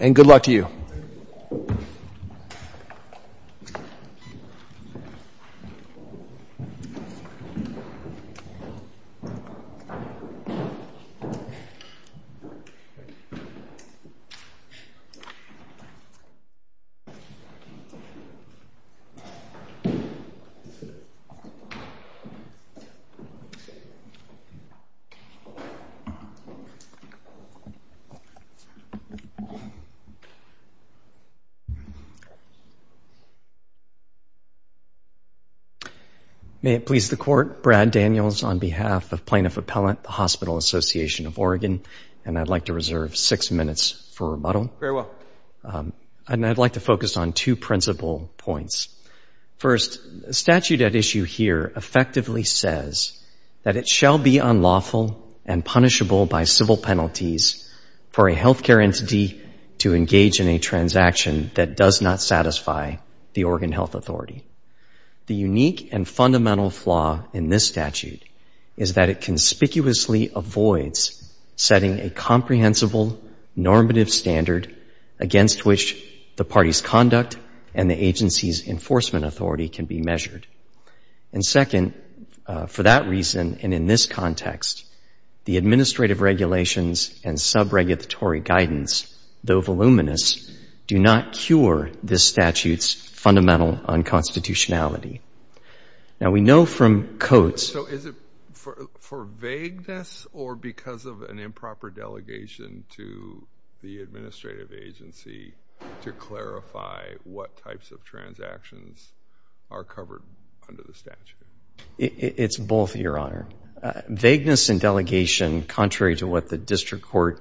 And good luck to you. May it please the Court, Brad Daniels on behalf of Plaintiff Appellant, the Hospital Association of Oregon, and I'd like to reserve six minutes for rebuttal. Very well. And I'd like to focus on two principal points. First, the statute at issue here effectively says that it shall be unlawful and punishable by civil penalties for a health care entity to engage in a transaction that does not satisfy the Oregon Health Authority. The unique and fundamental flaw in this statute is that it conspicuously avoids setting a comprehensible normative standard against which the party's conduct and the agency's enforcement authority can be measured. And second, for that reason, and in this context, the administrative regulations and sub-regulatory guidance, though voluminous, do not cure this statute's fundamental unconstitutionality. Now we know from codes— So is it for vagueness or because of an improper delegation to the administrative agency to clarify what types of transactions are covered under the statute? It's both, Your Honor. Vagueness and delegation, contrary to what the district court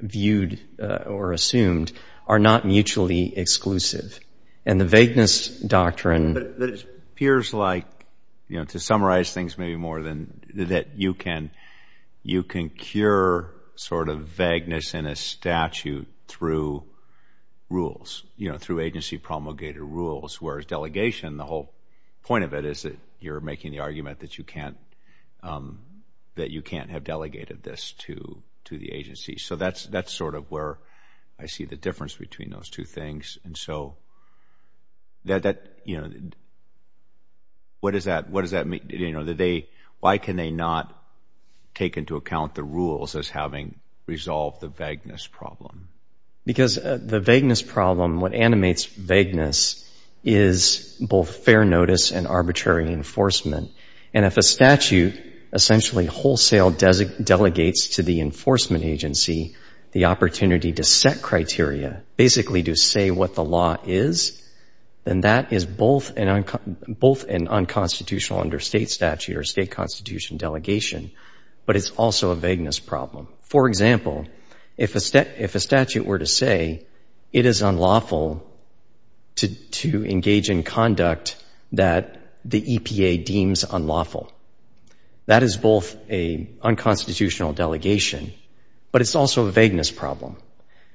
viewed or assumed, are not mutually exclusive. And the vagueness doctrine— But it appears like, you know, to summarize things maybe more than that, you can cure sort of vagueness in a statute through rules, you know, through agency promulgated rules, whereas delegation, the whole point of it is that you're making the argument that you can't, that you can't have delegated this to the agency. So that's sort of where I see the difference between those two things. And so that, you know, what does that mean? You know, why can they not take into account the rules as having resolved the vagueness problem? Because the vagueness problem, what animates vagueness, is both fair notice and arbitrary enforcement. And if a statute essentially wholesale delegates to the enforcement agency the opportunity to set criteria, basically to say what the law is, then that is both an unconstitutional under state statute or state constitution delegation, but it's also a vagueness problem. For example, if a statute were to say it is unlawful to engage in conduct that the EPA deems unlawful, that is both a unconstitutional delegation, but it's also a vagueness problem.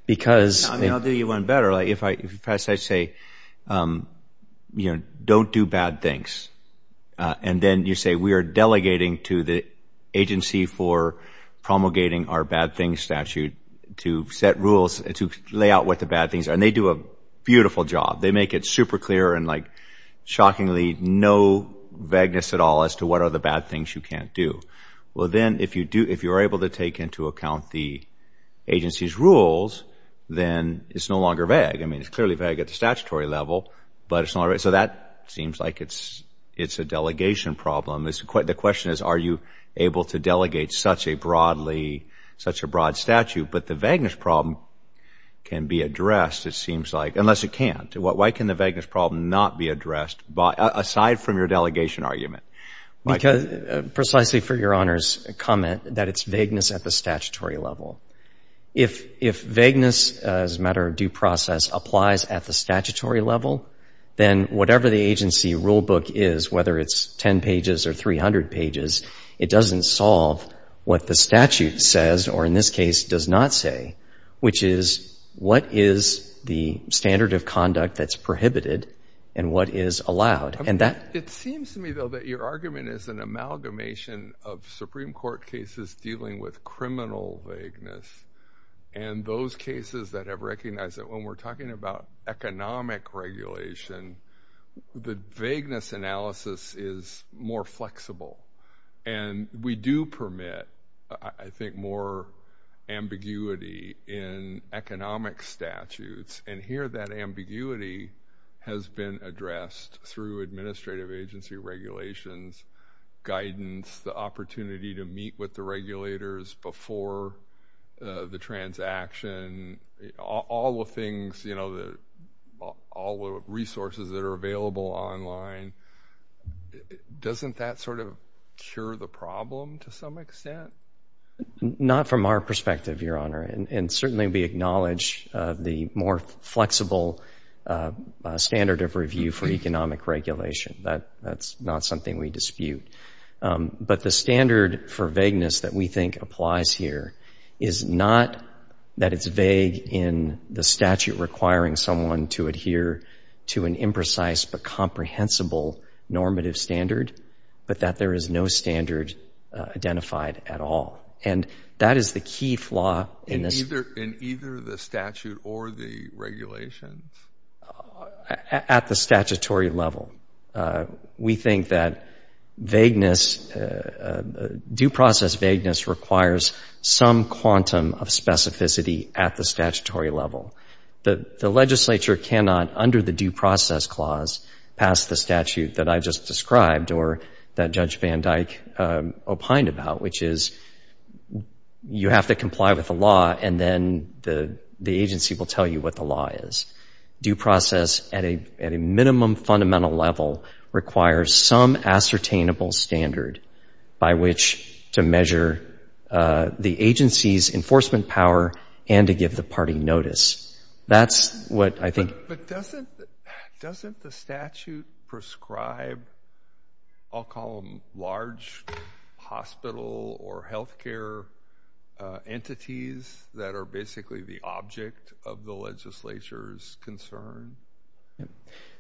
I'll do you one better. If I say, you know, don't do bad things, and then you say we are delegating to the agency for promulgating our bad things statute to set rules, to lay out what the bad things are, and they do a beautiful job. They make it super clear and like shockingly no vagueness at all as to what are the bad things you can't do. Well then it's no longer vague. I mean, it's clearly vague at the statutory level, but it's not right. So that seems like it's a delegation problem. The question is, are you able to delegate such a broadly, such a broad statute? But the vagueness problem can be addressed, it seems like, unless it can't. Why can the vagueness problem not be addressed aside from your delegation argument? Because, precisely for Your Honor's comment, that it's vagueness at the statutory level. If vagueness as a matter of due process applies at the statutory level, then whatever the agency rulebook is, whether it's 10 pages or 300 pages, it doesn't solve what the statute says, or in this case does not say, which is what is the standard of conduct that's prohibited and what is allowed. And that it seems to me, though, that your argument is an amalgamation of Supreme Court cases dealing with criminal vagueness. And those cases that have recognized that when we're talking about economic regulation, the vagueness analysis is more flexible. And we do permit, I think, more ambiguity in economic statutes. And here that ambiguity has been addressed through administrative agency regulations, guidance, the opportunity to meet with the regulators before the transaction, all the things, you know, all the resources that are available online. Doesn't that sort of cure the problem to some extent? Not from our perspective, Your Honor. And certainly we acknowledge the more flexible standard of review for economic regulation. That's not something we dispute. But the standard for vagueness that we think applies here is not that it's vague in the statute requiring someone to adhere to an imprecise but comprehensible normative standard, but that there is no standard identified at all. And that is the key flaw in this. In the statute or the regulations? At the statutory level. We think that vagueness, due process vagueness requires some quantum of specificity at the statutory level. The legislature cannot, under the Due Process Clause, pass the statute that I just described or that Judge Van Dyck opined about, which is you have to comply with the law and then the agency will tell you what the law is. Due process at a minimum fundamental level requires some ascertainable standard by which to measure the agency's enforcement power and to give the party notice. That's what I think. But doesn't the statute prescribe, I'll call them large hospital or healthcare entities that are basically the object of the legislature's concern?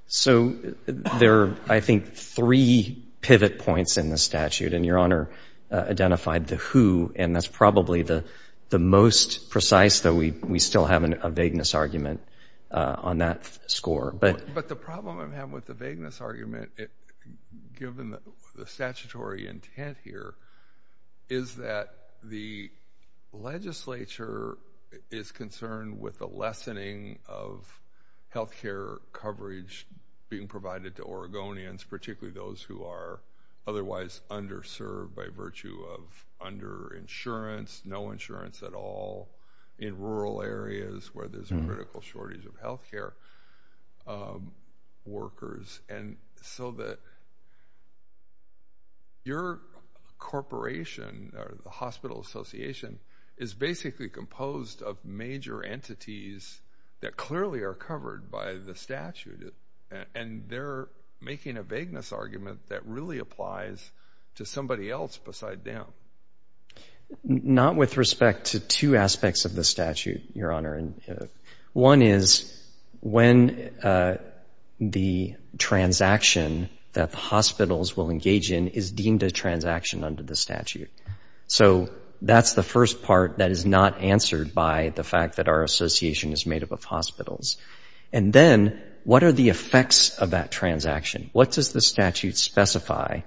So there are, I think, three pivot points in the statute, and Your Honor identified the who, and that's probably the most precise, though we still have a vagueness argument on that score. But the problem I have with the vagueness argument, given the statutory intent here, is that the legislature is concerned with the lessening of healthcare coverage being provided to Oregonians, particularly those who are otherwise underserved by virtue of under insurance, no insurance at all, in rural areas where there's a critical shortage of healthcare workers. And so your corporation or the hospital association is basically composed of major entities that clearly are covered by the statute, and they're making a vagueness argument that really applies to somebody else besides them. Not with respect to two aspects of the statute, Your Honor. One is when the transaction that the hospitals will engage in is deemed a transaction under the statute. So that's the first part that is not answered by the fact that our association is made up of hospitals. And then what are the effects of that transaction? What does the statute specify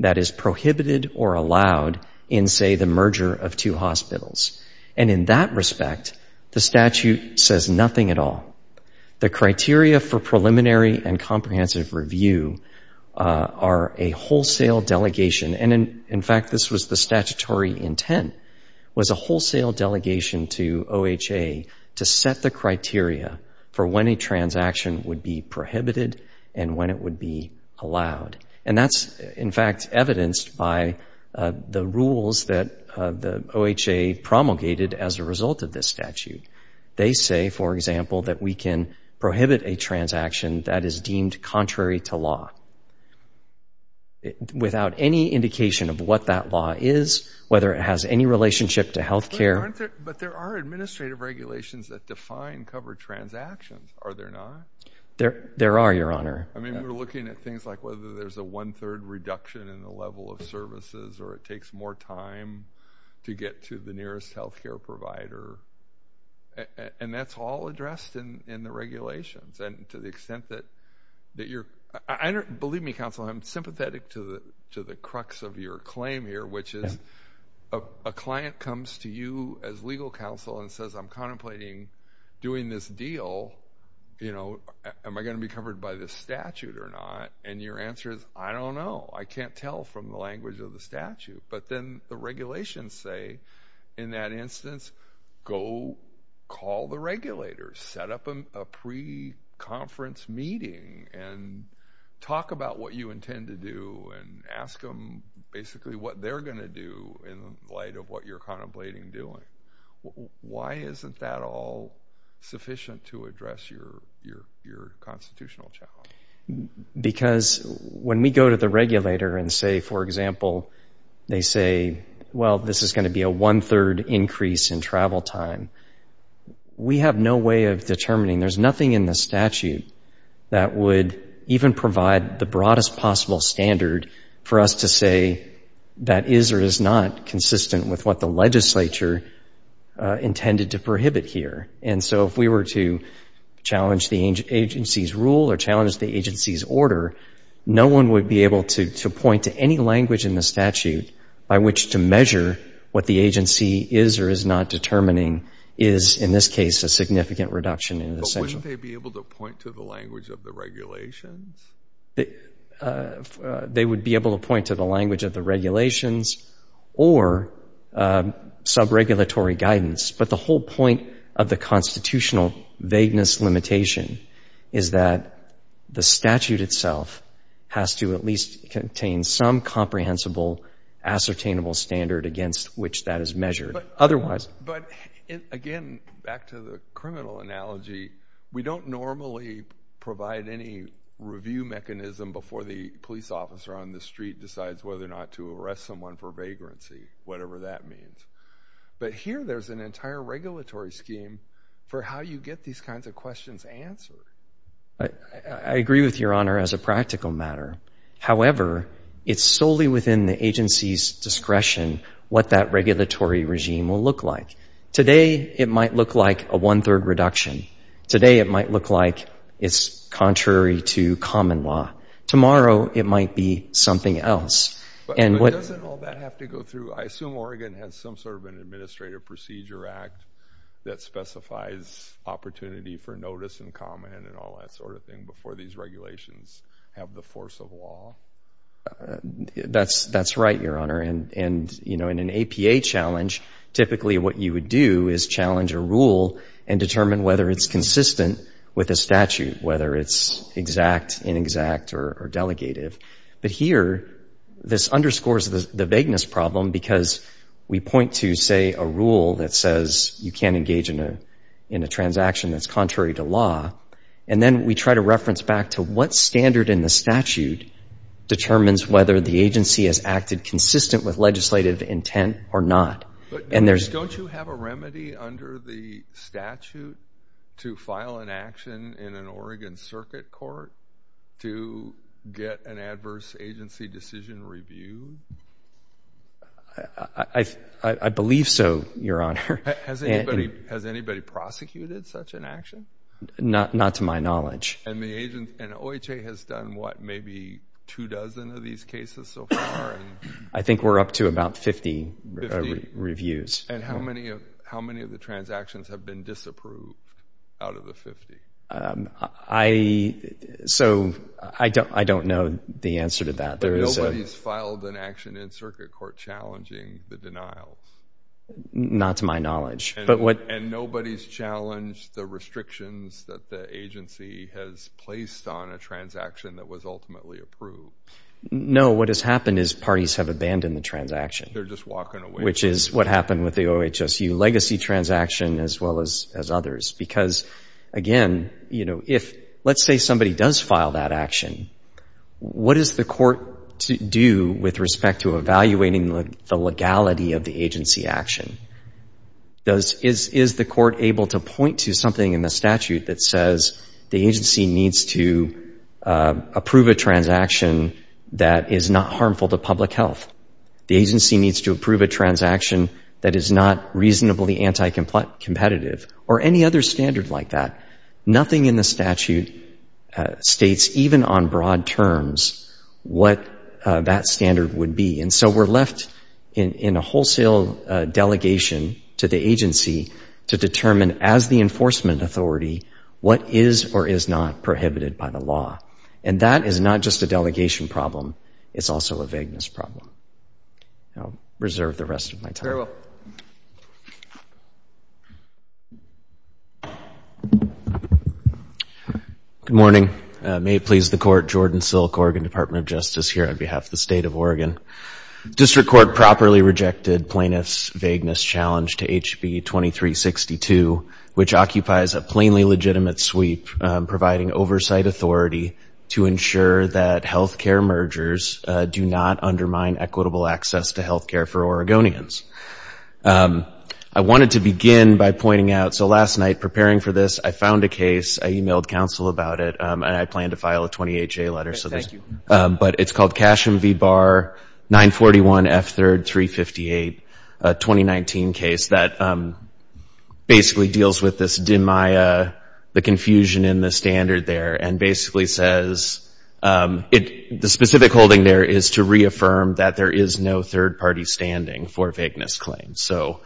that is prohibited or allowed in, say, the merger of two hospitals? And in that respect, the statute says nothing at all. The criteria for preliminary and comprehensive review are a wholesale delegation, and in fact this was the statutory intent, was a wholesale delegation to OHA to set the criteria for when a transaction would be prohibited and when it would be allowed. And that's, in fact, evidenced by the rules that the OHA promulgated as a result of this statute. They say, for example, that we can prohibit a transaction that is deemed contrary to law without any indication of what that law is, whether it has any relationship to healthcare. But there are administrative regulations that define covered transactions, are there not? There are, Your Honor. I mean, we're looking at things like whether there's a one-third reduction in the level of services or it takes more time to get to the nearest healthcare provider. And that's all addressed in the regulations. And to the extent that you're—believe me, counsel, I'm sympathetic to the crux of your claim here, which is a client comes to you as legal counsel and says, I'm contemplating doing this deal, you know, am I going to be covered by this statute or not? And your answer is, I don't know. I can't tell from the language of the statute. But then the regulations say, in that instance, go call the regulators. Set up a pre-conference meeting and talk about what you intend to do and ask them basically what they're going to do in light of what you're contemplating doing. Why isn't that all sufficient to address your constitutional challenge? Because when we go to the regulator and say, for example, they say, well, this is going to be a one-third increase in travel time, we have no way of determining. There's nothing in the statute that would even provide the broadest possible standard for us to say that is or is not consistent with what the legislature intended to prohibit here. And so if we were to challenge the agency's rule or challenge the agency's order, no one would be able to point to any language in the statute by which to measure what the agency is or is not determining is, in this case, a significant reduction in essential. But wouldn't they be able to point to the language of the regulations? They would be able to point to the language of the regulations or sub-regulatory guidance. But the whole point of the constitutional vagueness limitation is that the statute itself has to at least contain some comprehensible, ascertainable standard against which that is measured. Otherwise— But again, back to the criminal analogy, we don't normally provide any review mechanism before the police officer on the street decides whether or not to arrest someone for vagrancy, whatever that means. But here there's an entire regulatory scheme for how you get these kinds of questions answered. I agree with Your Honor as a practical matter. However, it's solely within the agency's discretion what that regulatory regime will look like. Today it might look like a one-third reduction. Today it might look like it's contrary to common law. Tomorrow it might be something else. But doesn't all that have to go through—I assume Oregon has some sort of an Administrative Procedure Act that specifies opportunity for notice and comment and all that sort of thing before these regulations have the force of law? That's right, Your Honor. And, you know, in an APA challenge, typically what you would do is challenge a rule and determine whether it's consistent with a statute, whether it's exact, inexact, or delegative. But here this underscores the vagueness problem because we point to, say, a rule that says you can't engage in a transaction that's contrary to law, and then we try to reference back to what standard in the statute determines whether the agency has acted consistent with legislative intent or not. But don't you have a remedy under the statute to file an action in an Oregon circuit court to get an adverse agency decision reviewed? I believe so, Your Honor. Has anybody prosecuted such an action? Not to my knowledge. And the OHA has done, what, maybe two dozen of these cases so far? I think we're up to about 50 reviews. And how many of the transactions have been disapproved out of the 50? I, so I don't know the answer to that. Nobody's filed an action in circuit court challenging the denials? Not to my knowledge. And nobody's challenged the restrictions that the agency has placed on a transaction that was ultimately approved? No, what has happened is parties have abandoned the transaction. They're just walking away. Which is what happened with the OHSU legacy transaction as well as others. Because, again, if, let's say somebody does file that action, what does the court do with respect to evaluating the legality of the agency action? Is the court able to point to something in the statute that says the agency needs to approve a transaction that is not harmful to public health? The agency needs to approve a transaction that is not reasonably anti-competitive or any other standard like that. Nothing in the statute states, even on broad terms, what that standard would be. And so we're left in a wholesale delegation to the agency to determine, as the enforcement authority, what is or is not prohibited by the law. And that is not just a delegation problem. It's also a vagueness problem. I'll reserve the rest of my time. Very well. Good morning. May it please the court, Jordan Silk, Oregon Department of Justice, here on behalf of the State of Oregon. District Court properly rejected plaintiff's vagueness challenge to HB 2362, which occupies a plainly legitimate sweep providing oversight authority to ensure that health care mergers do not undermine equitable access to health care for Oregonians. I wanted to begin by pointing out, so last night, preparing for this, I found a case, I emailed counsel about it, and I plan to file a 20HA letter. Thank you. But it's called Cashem v. Barr, 941 F3rd 358, a 2019 case that basically deals with this the confusion in the standard there, and basically says the specific holding there is to reaffirm that there is no third party standing for vagueness claims. So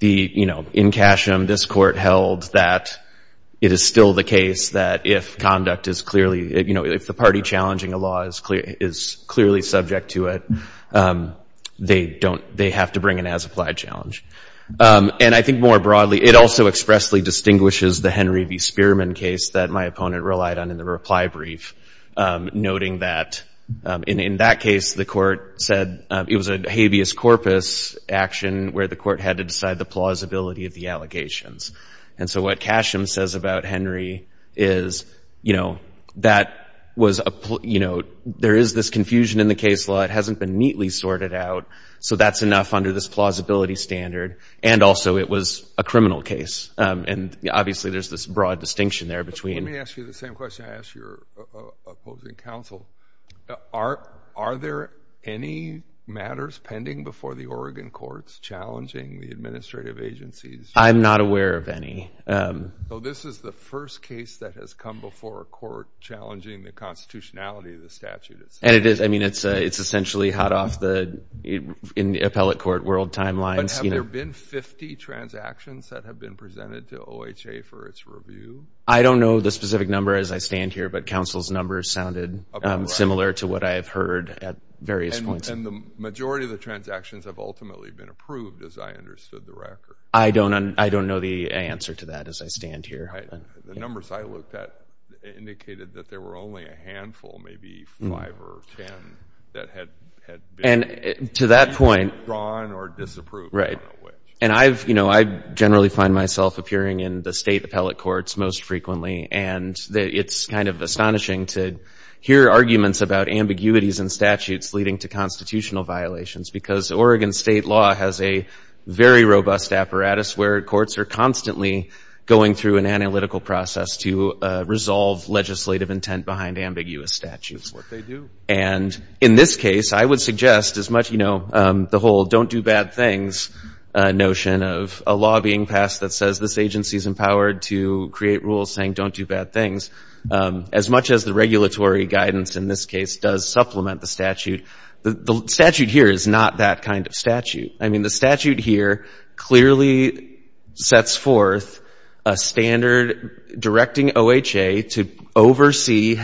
in Cashem, this court held that it is still the case that if conduct is clearly, if the party challenging a law is clearly subject to it, they have to bring an as-applied challenge. And I think more broadly, it also expressly distinguishes the Henry v. Spearman case that my opponent relied on in the reply brief, noting that in that case, the court said it was a habeas corpus action where the court had to decide the plausibility of the allegations. And so what Cashem says about Henry is, you know, that was, you know, there is this confusion in the case law. It hasn't been neatly sorted out. So that's enough under this plausibility standard. And also, it was a criminal case. And obviously, there's this broad distinction there between. Let me ask you the same question I asked your opposing counsel. Are there any matters pending before the Oregon courts challenging the administrative agencies? I'm not aware of any. This is the first case that has come before a court challenging the constitutionality of the statute. And it is. I mean, it's essentially hot off the, in the appellate court world timelines. But have there been 50 transactions that have been presented to OHA for its review? I don't know the specific number as I stand here, but counsel's numbers sounded similar to what I've heard at various points. And the majority of the transactions have ultimately been approved, as I understood the record. I don't know the answer to that as I stand here. The numbers I looked at indicated that there were only a handful, maybe five or ten, that had been drawn or disapproved. Right. And I generally find myself appearing in the state appellate courts most frequently. And it's kind of astonishing to hear arguments about ambiguities in statutes leading to constitutional violations. Because Oregon state law has a very robust apparatus where courts are constantly going through an analytical process to resolve legislative intent behind ambiguous statutes. That's what they do. And in this case, I would suggest as much, you know, the whole don't do bad things notion of a law being passed that says this agency is empowered to create rules saying don't do bad things. As much as the regulatory guidance in this case does supplement the statute, the statute here is not that kind of statute. I mean, the statute here clearly sets forth a standard directing OHA to oversee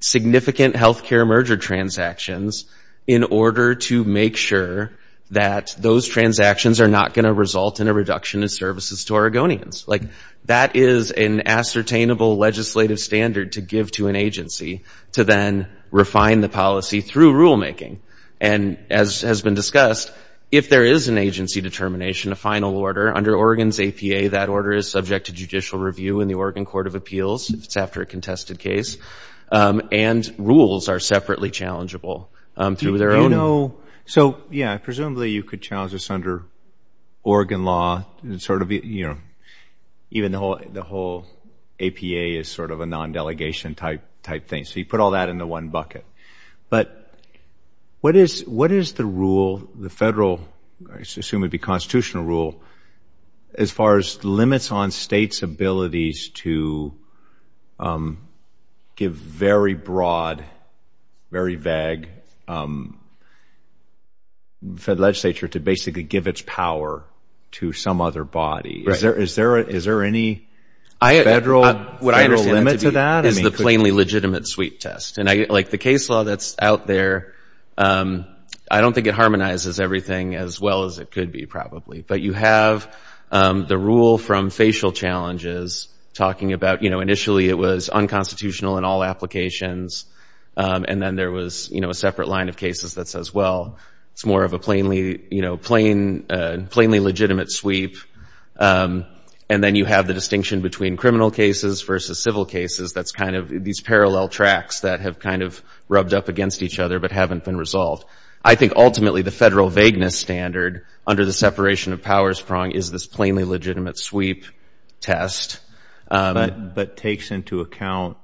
significant health care merger transactions in order to make sure that those transactions are not going to result in a reduction in services to Oregonians. Like that is an ascertainable legislative standard to give to an agency to then refine the policy through rulemaking. And as has been discussed, if there is an agency determination, a final order under Oregon's APA, that order is subject to judicial review in the Oregon Court of Appeals if it's after a contested case. And rules are separately challengeable through their own. So yeah, presumably you could challenge this under Oregon law and sort of, you know, even the whole APA is sort of a non-delegation type thing. So you put all that into one bucket. But what is the rule, the federal, I assume it would be constitutional rule, as far as limits on states' abilities to give very broad, very vague, for the legislature to basically give its power to some other body? Is there any federal limit to that? What is the plainly legitimate sweep test? And like the case law that's out there, I don't think it harmonizes everything as well as it could be, probably. But you have the rule from facial challenges talking about, you know, initially it was unconstitutional in all applications, and then there was, you know, a separate line of cases that says, well, it's more of a plainly, you know, plainly legitimate sweep. And then you have the distinction between criminal cases versus civil cases that's kind of these parallel tracks that have kind of rubbed up against each other but haven't been resolved. I think ultimately the federal vagueness standard under the separation of powers prong is this plainly legitimate sweep test. But takes into account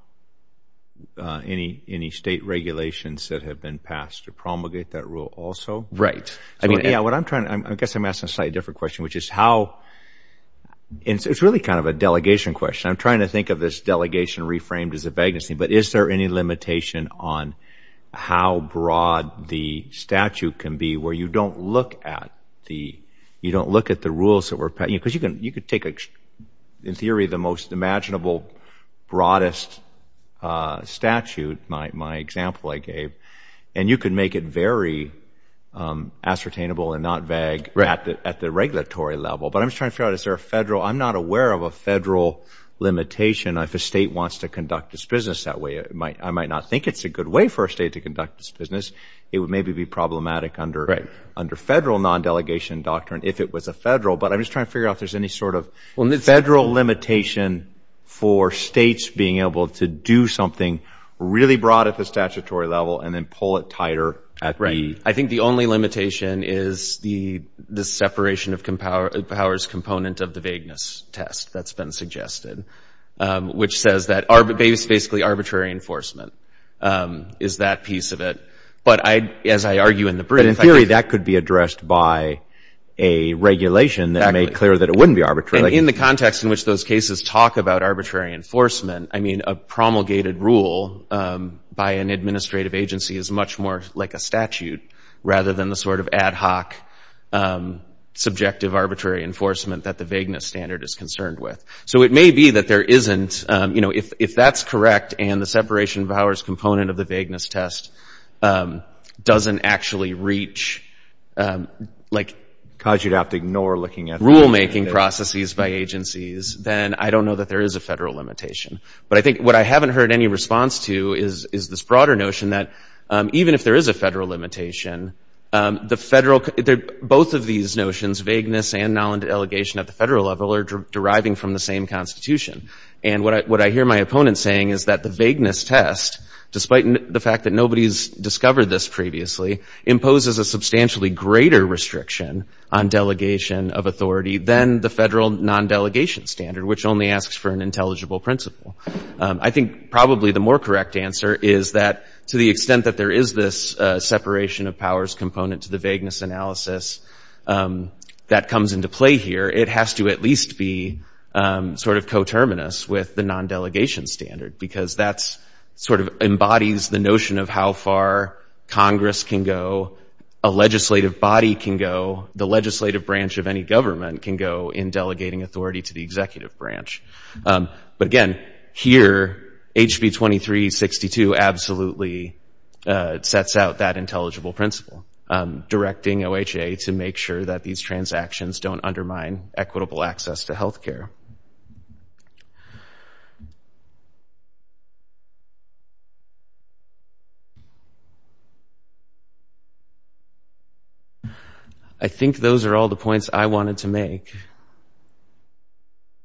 any state regulations that have been passed to promulgate that rule also? Right. I mean, yeah, what I'm trying to, I guess I'm asking a slightly different question, which is how, it's really kind of a delegation question. I'm trying to think of this delegation reframed as a vagueness thing, but is there any limitation on how broad the statute can be where you don't look at the, you don't look at the rules that were passed? Because you can take, in theory, the most imaginable, broadest statute, my example I gave, and you can make it very ascertainable and not vague at the regulatory level. But I'm just trying to figure out, is there a federal, I'm not aware of a federal limitation if a state wants to conduct its business that way. I might not think it's a good way for a state to conduct its business. It would maybe be problematic under federal non-delegation doctrine if it was a federal. But I'm just trying to figure out if there's any sort of federal limitation for states being able to do something really broad at the statutory level and then pull it tighter at the... I think the only limitation is the separation of powers component of the vagueness test that's been suggested, which says that it's basically arbitrary enforcement is that piece of it. But as I argue in the brief... But in theory, that could be addressed by a regulation that made clear that it wouldn't be arbitrary. And in the context in which those cases talk about arbitrary enforcement, I mean, a promulgated rule by an administrative agency is much more like a statute rather than the sort of ad hoc subjective arbitrary enforcement that the vagueness standard is concerned with. So it may be that there isn't, you know, if that's correct and the separation of powers component of the vagueness test doesn't actually reach like... Cause you'd have to ignore looking at... Rulemaking processes by agencies, then I don't know that there is a federal limitation. But I think what I haven't heard any response to is this broader notion that even if there is a federal limitation, the federal... Both of these notions, vagueness and null and delegation at the federal level are deriving from the same constitution. And what I hear my opponent saying is that the vagueness test, despite the fact that nobody's discovered this previously, imposes a substantially greater restriction on delegation of authority than the federal non-delegation standard, which only asks for an intelligible principle. I think probably the more correct answer is that to the extent that there is this separation of powers component to the vagueness analysis that comes into play here, it has to at least be sort of coterminous with the non-delegation standard because that's sort of embodies the notion of how far Congress can go, a legislative body can go, the legislative branch of any government can go in delegating authority to the executive branch. But again, here, HB 2362 absolutely sets out that intelligible principle, directing OHA to make sure that these transactions don't undermine equitable access to healthcare. Thank you. I think those are all the points I wanted to make.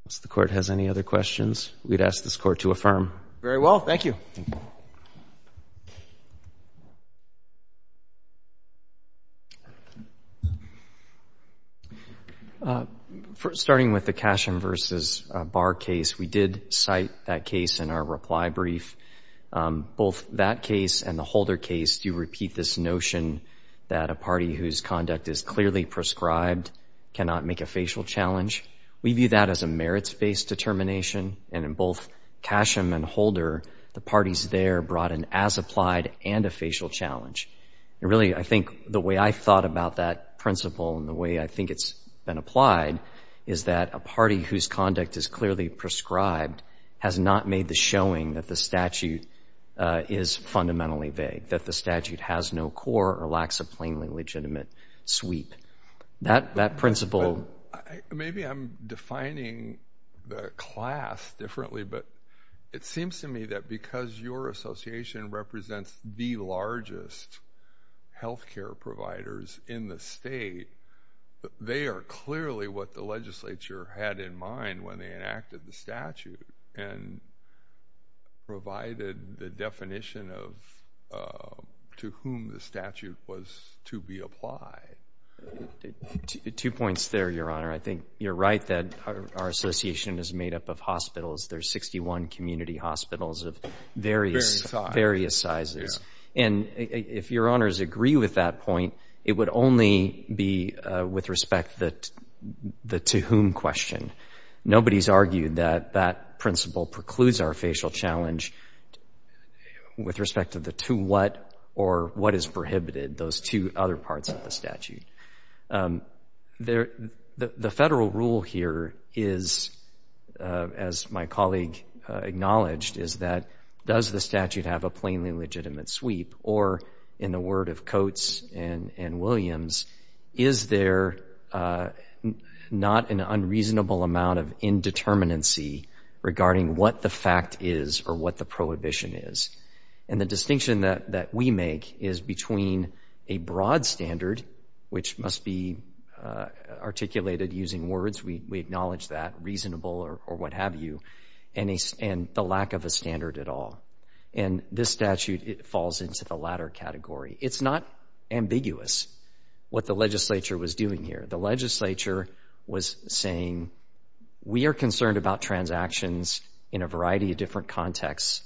If the Court has any other questions, we'd ask this Court to affirm. Very well, thank you. Thank you. Starting with the Casham v. Barr case, we did cite that case in our reply brief. Both that case and the Holder case do repeat this notion that a party whose conduct is clearly prescribed cannot make a facial challenge. We view that as a merits-based determination, and in both Casham and Holder, the parties there brought an as-applied and a facial challenge. And really, I think the way I thought about that principle and the way I think it's been applied is that a party whose conduct is clearly prescribed has not made the showing that the statute is fundamentally vague, that the statute has no core or lacks a plainly legitimate sweep. That principle— Maybe I'm defining the class differently, but it seems to me that because your association represents the largest healthcare providers in the state, they are clearly what the legislature had in mind when they enacted the statute and provided the definition of to whom the statute was to be applied. Two points there, Your Honor. I think you're right that our association is made up of hospitals. There's 61 community hospitals of various sizes. And if Your Honors agree with that point, it would only be with respect to the to whom question. Nobody's argued that that principle precludes our facial challenge with respect to the to what or what is prohibited, those two other parts of the statute. The federal rule here is, as my colleague acknowledged, is that does the statute have a plainly legitimate sweep? Or in the word of Coates and Williams, is there not an unreasonable amount of indeterminacy regarding what the fact is or what the prohibition is? And the distinction that we make is between a broad standard, which must be articulated using words, we acknowledge that, reasonable or what have you, and the lack of a standard at all. And this statute, it falls into the latter category. It's not ambiguous what the legislature was doing here. The legislature was saying, we are concerned about transactions in a variety of different contexts.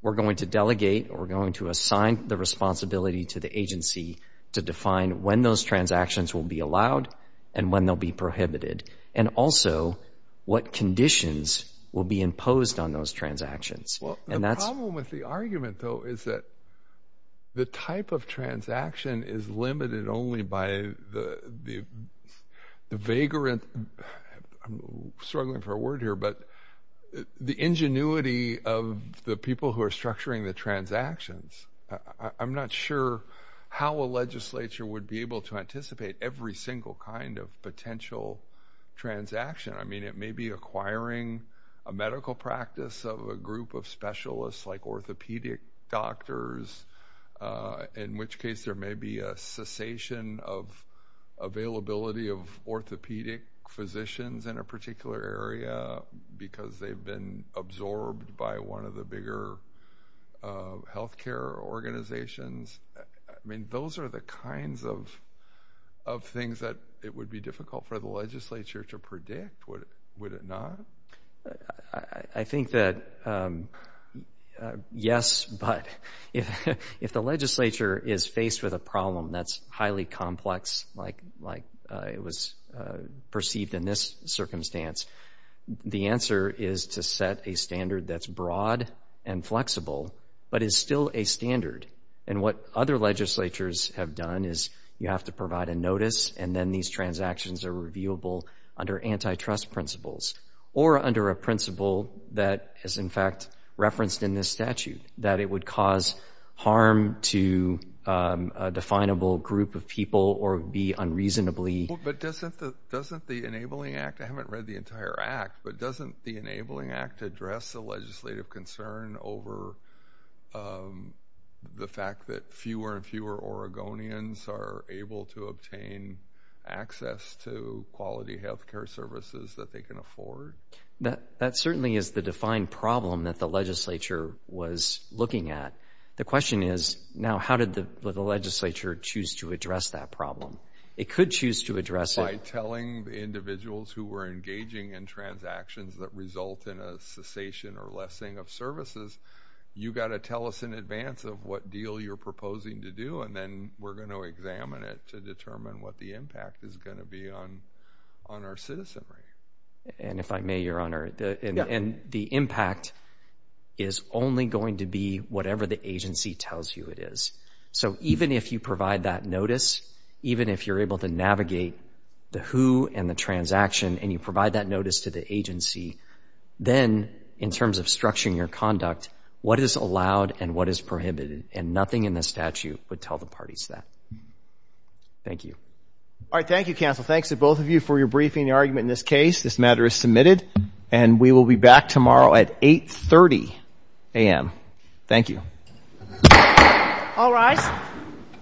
We're going to delegate or we're going to assign the responsibility to the agency to define when those transactions will be allowed and when they'll be prohibited. And also, what conditions will be imposed on those transactions. And that's- The problem with the argument, though, is that the type of transaction is limited only by the vagrant, I'm struggling for a word here, but the ingenuity of the people who are structuring the transactions. I'm not sure how a legislature would be able to anticipate every single kind of potential transaction. I mean, it may be acquiring a medical practice of a group of specialists like orthopedic doctors, in which case there may be a cessation of availability of orthopedic physicians in a particular area because they've been absorbed by one of the bigger healthcare organizations. I mean, those are the kinds of things that it would be difficult for the legislature to predict, would it not? I think that, yes, but if the legislature is faced with a problem that's highly complex, like it was perceived in this circumstance, the answer is to set a standard that's broad and flexible, but is still a standard. And what other legislatures have done is you have to provide a notice and then these transactions are reviewable under antitrust principles or under a principle that is, in fact, referenced in this statute, that it would cause harm to a definable group of people or be unreasonably Well, but doesn't the Enabling Act, I haven't read the entire act, but doesn't the Enabling Act address the legislative concern over the fact that fewer and fewer Oregonians are able to obtain access to quality healthcare services that they can afford? That certainly is the defined problem that the legislature was looking at. The question is, now, how did the legislature choose to address that problem? It could choose to address it By telling the individuals who were engaging in transactions that result in a cessation or lessing of services, you've got to tell us in advance of what deal you're proposing to do, and then we're going to examine it to determine what the impact is going to be on our citizenry. And if I may, Your Honor, and the impact is only going to be whatever the agency tells you it is. So even if you provide that notice, even if you're able to navigate the who and the transaction and you provide that notice to the agency, then in terms of structuring your conduct, what is allowed and what is prohibited, and nothing in the statute would tell the parties that. Thank you. All right. Thank you, counsel. Thanks to both of you for your briefing and argument in this case. This matter is submitted, and we will be back tomorrow at 830 a.m. Thank you. All rise.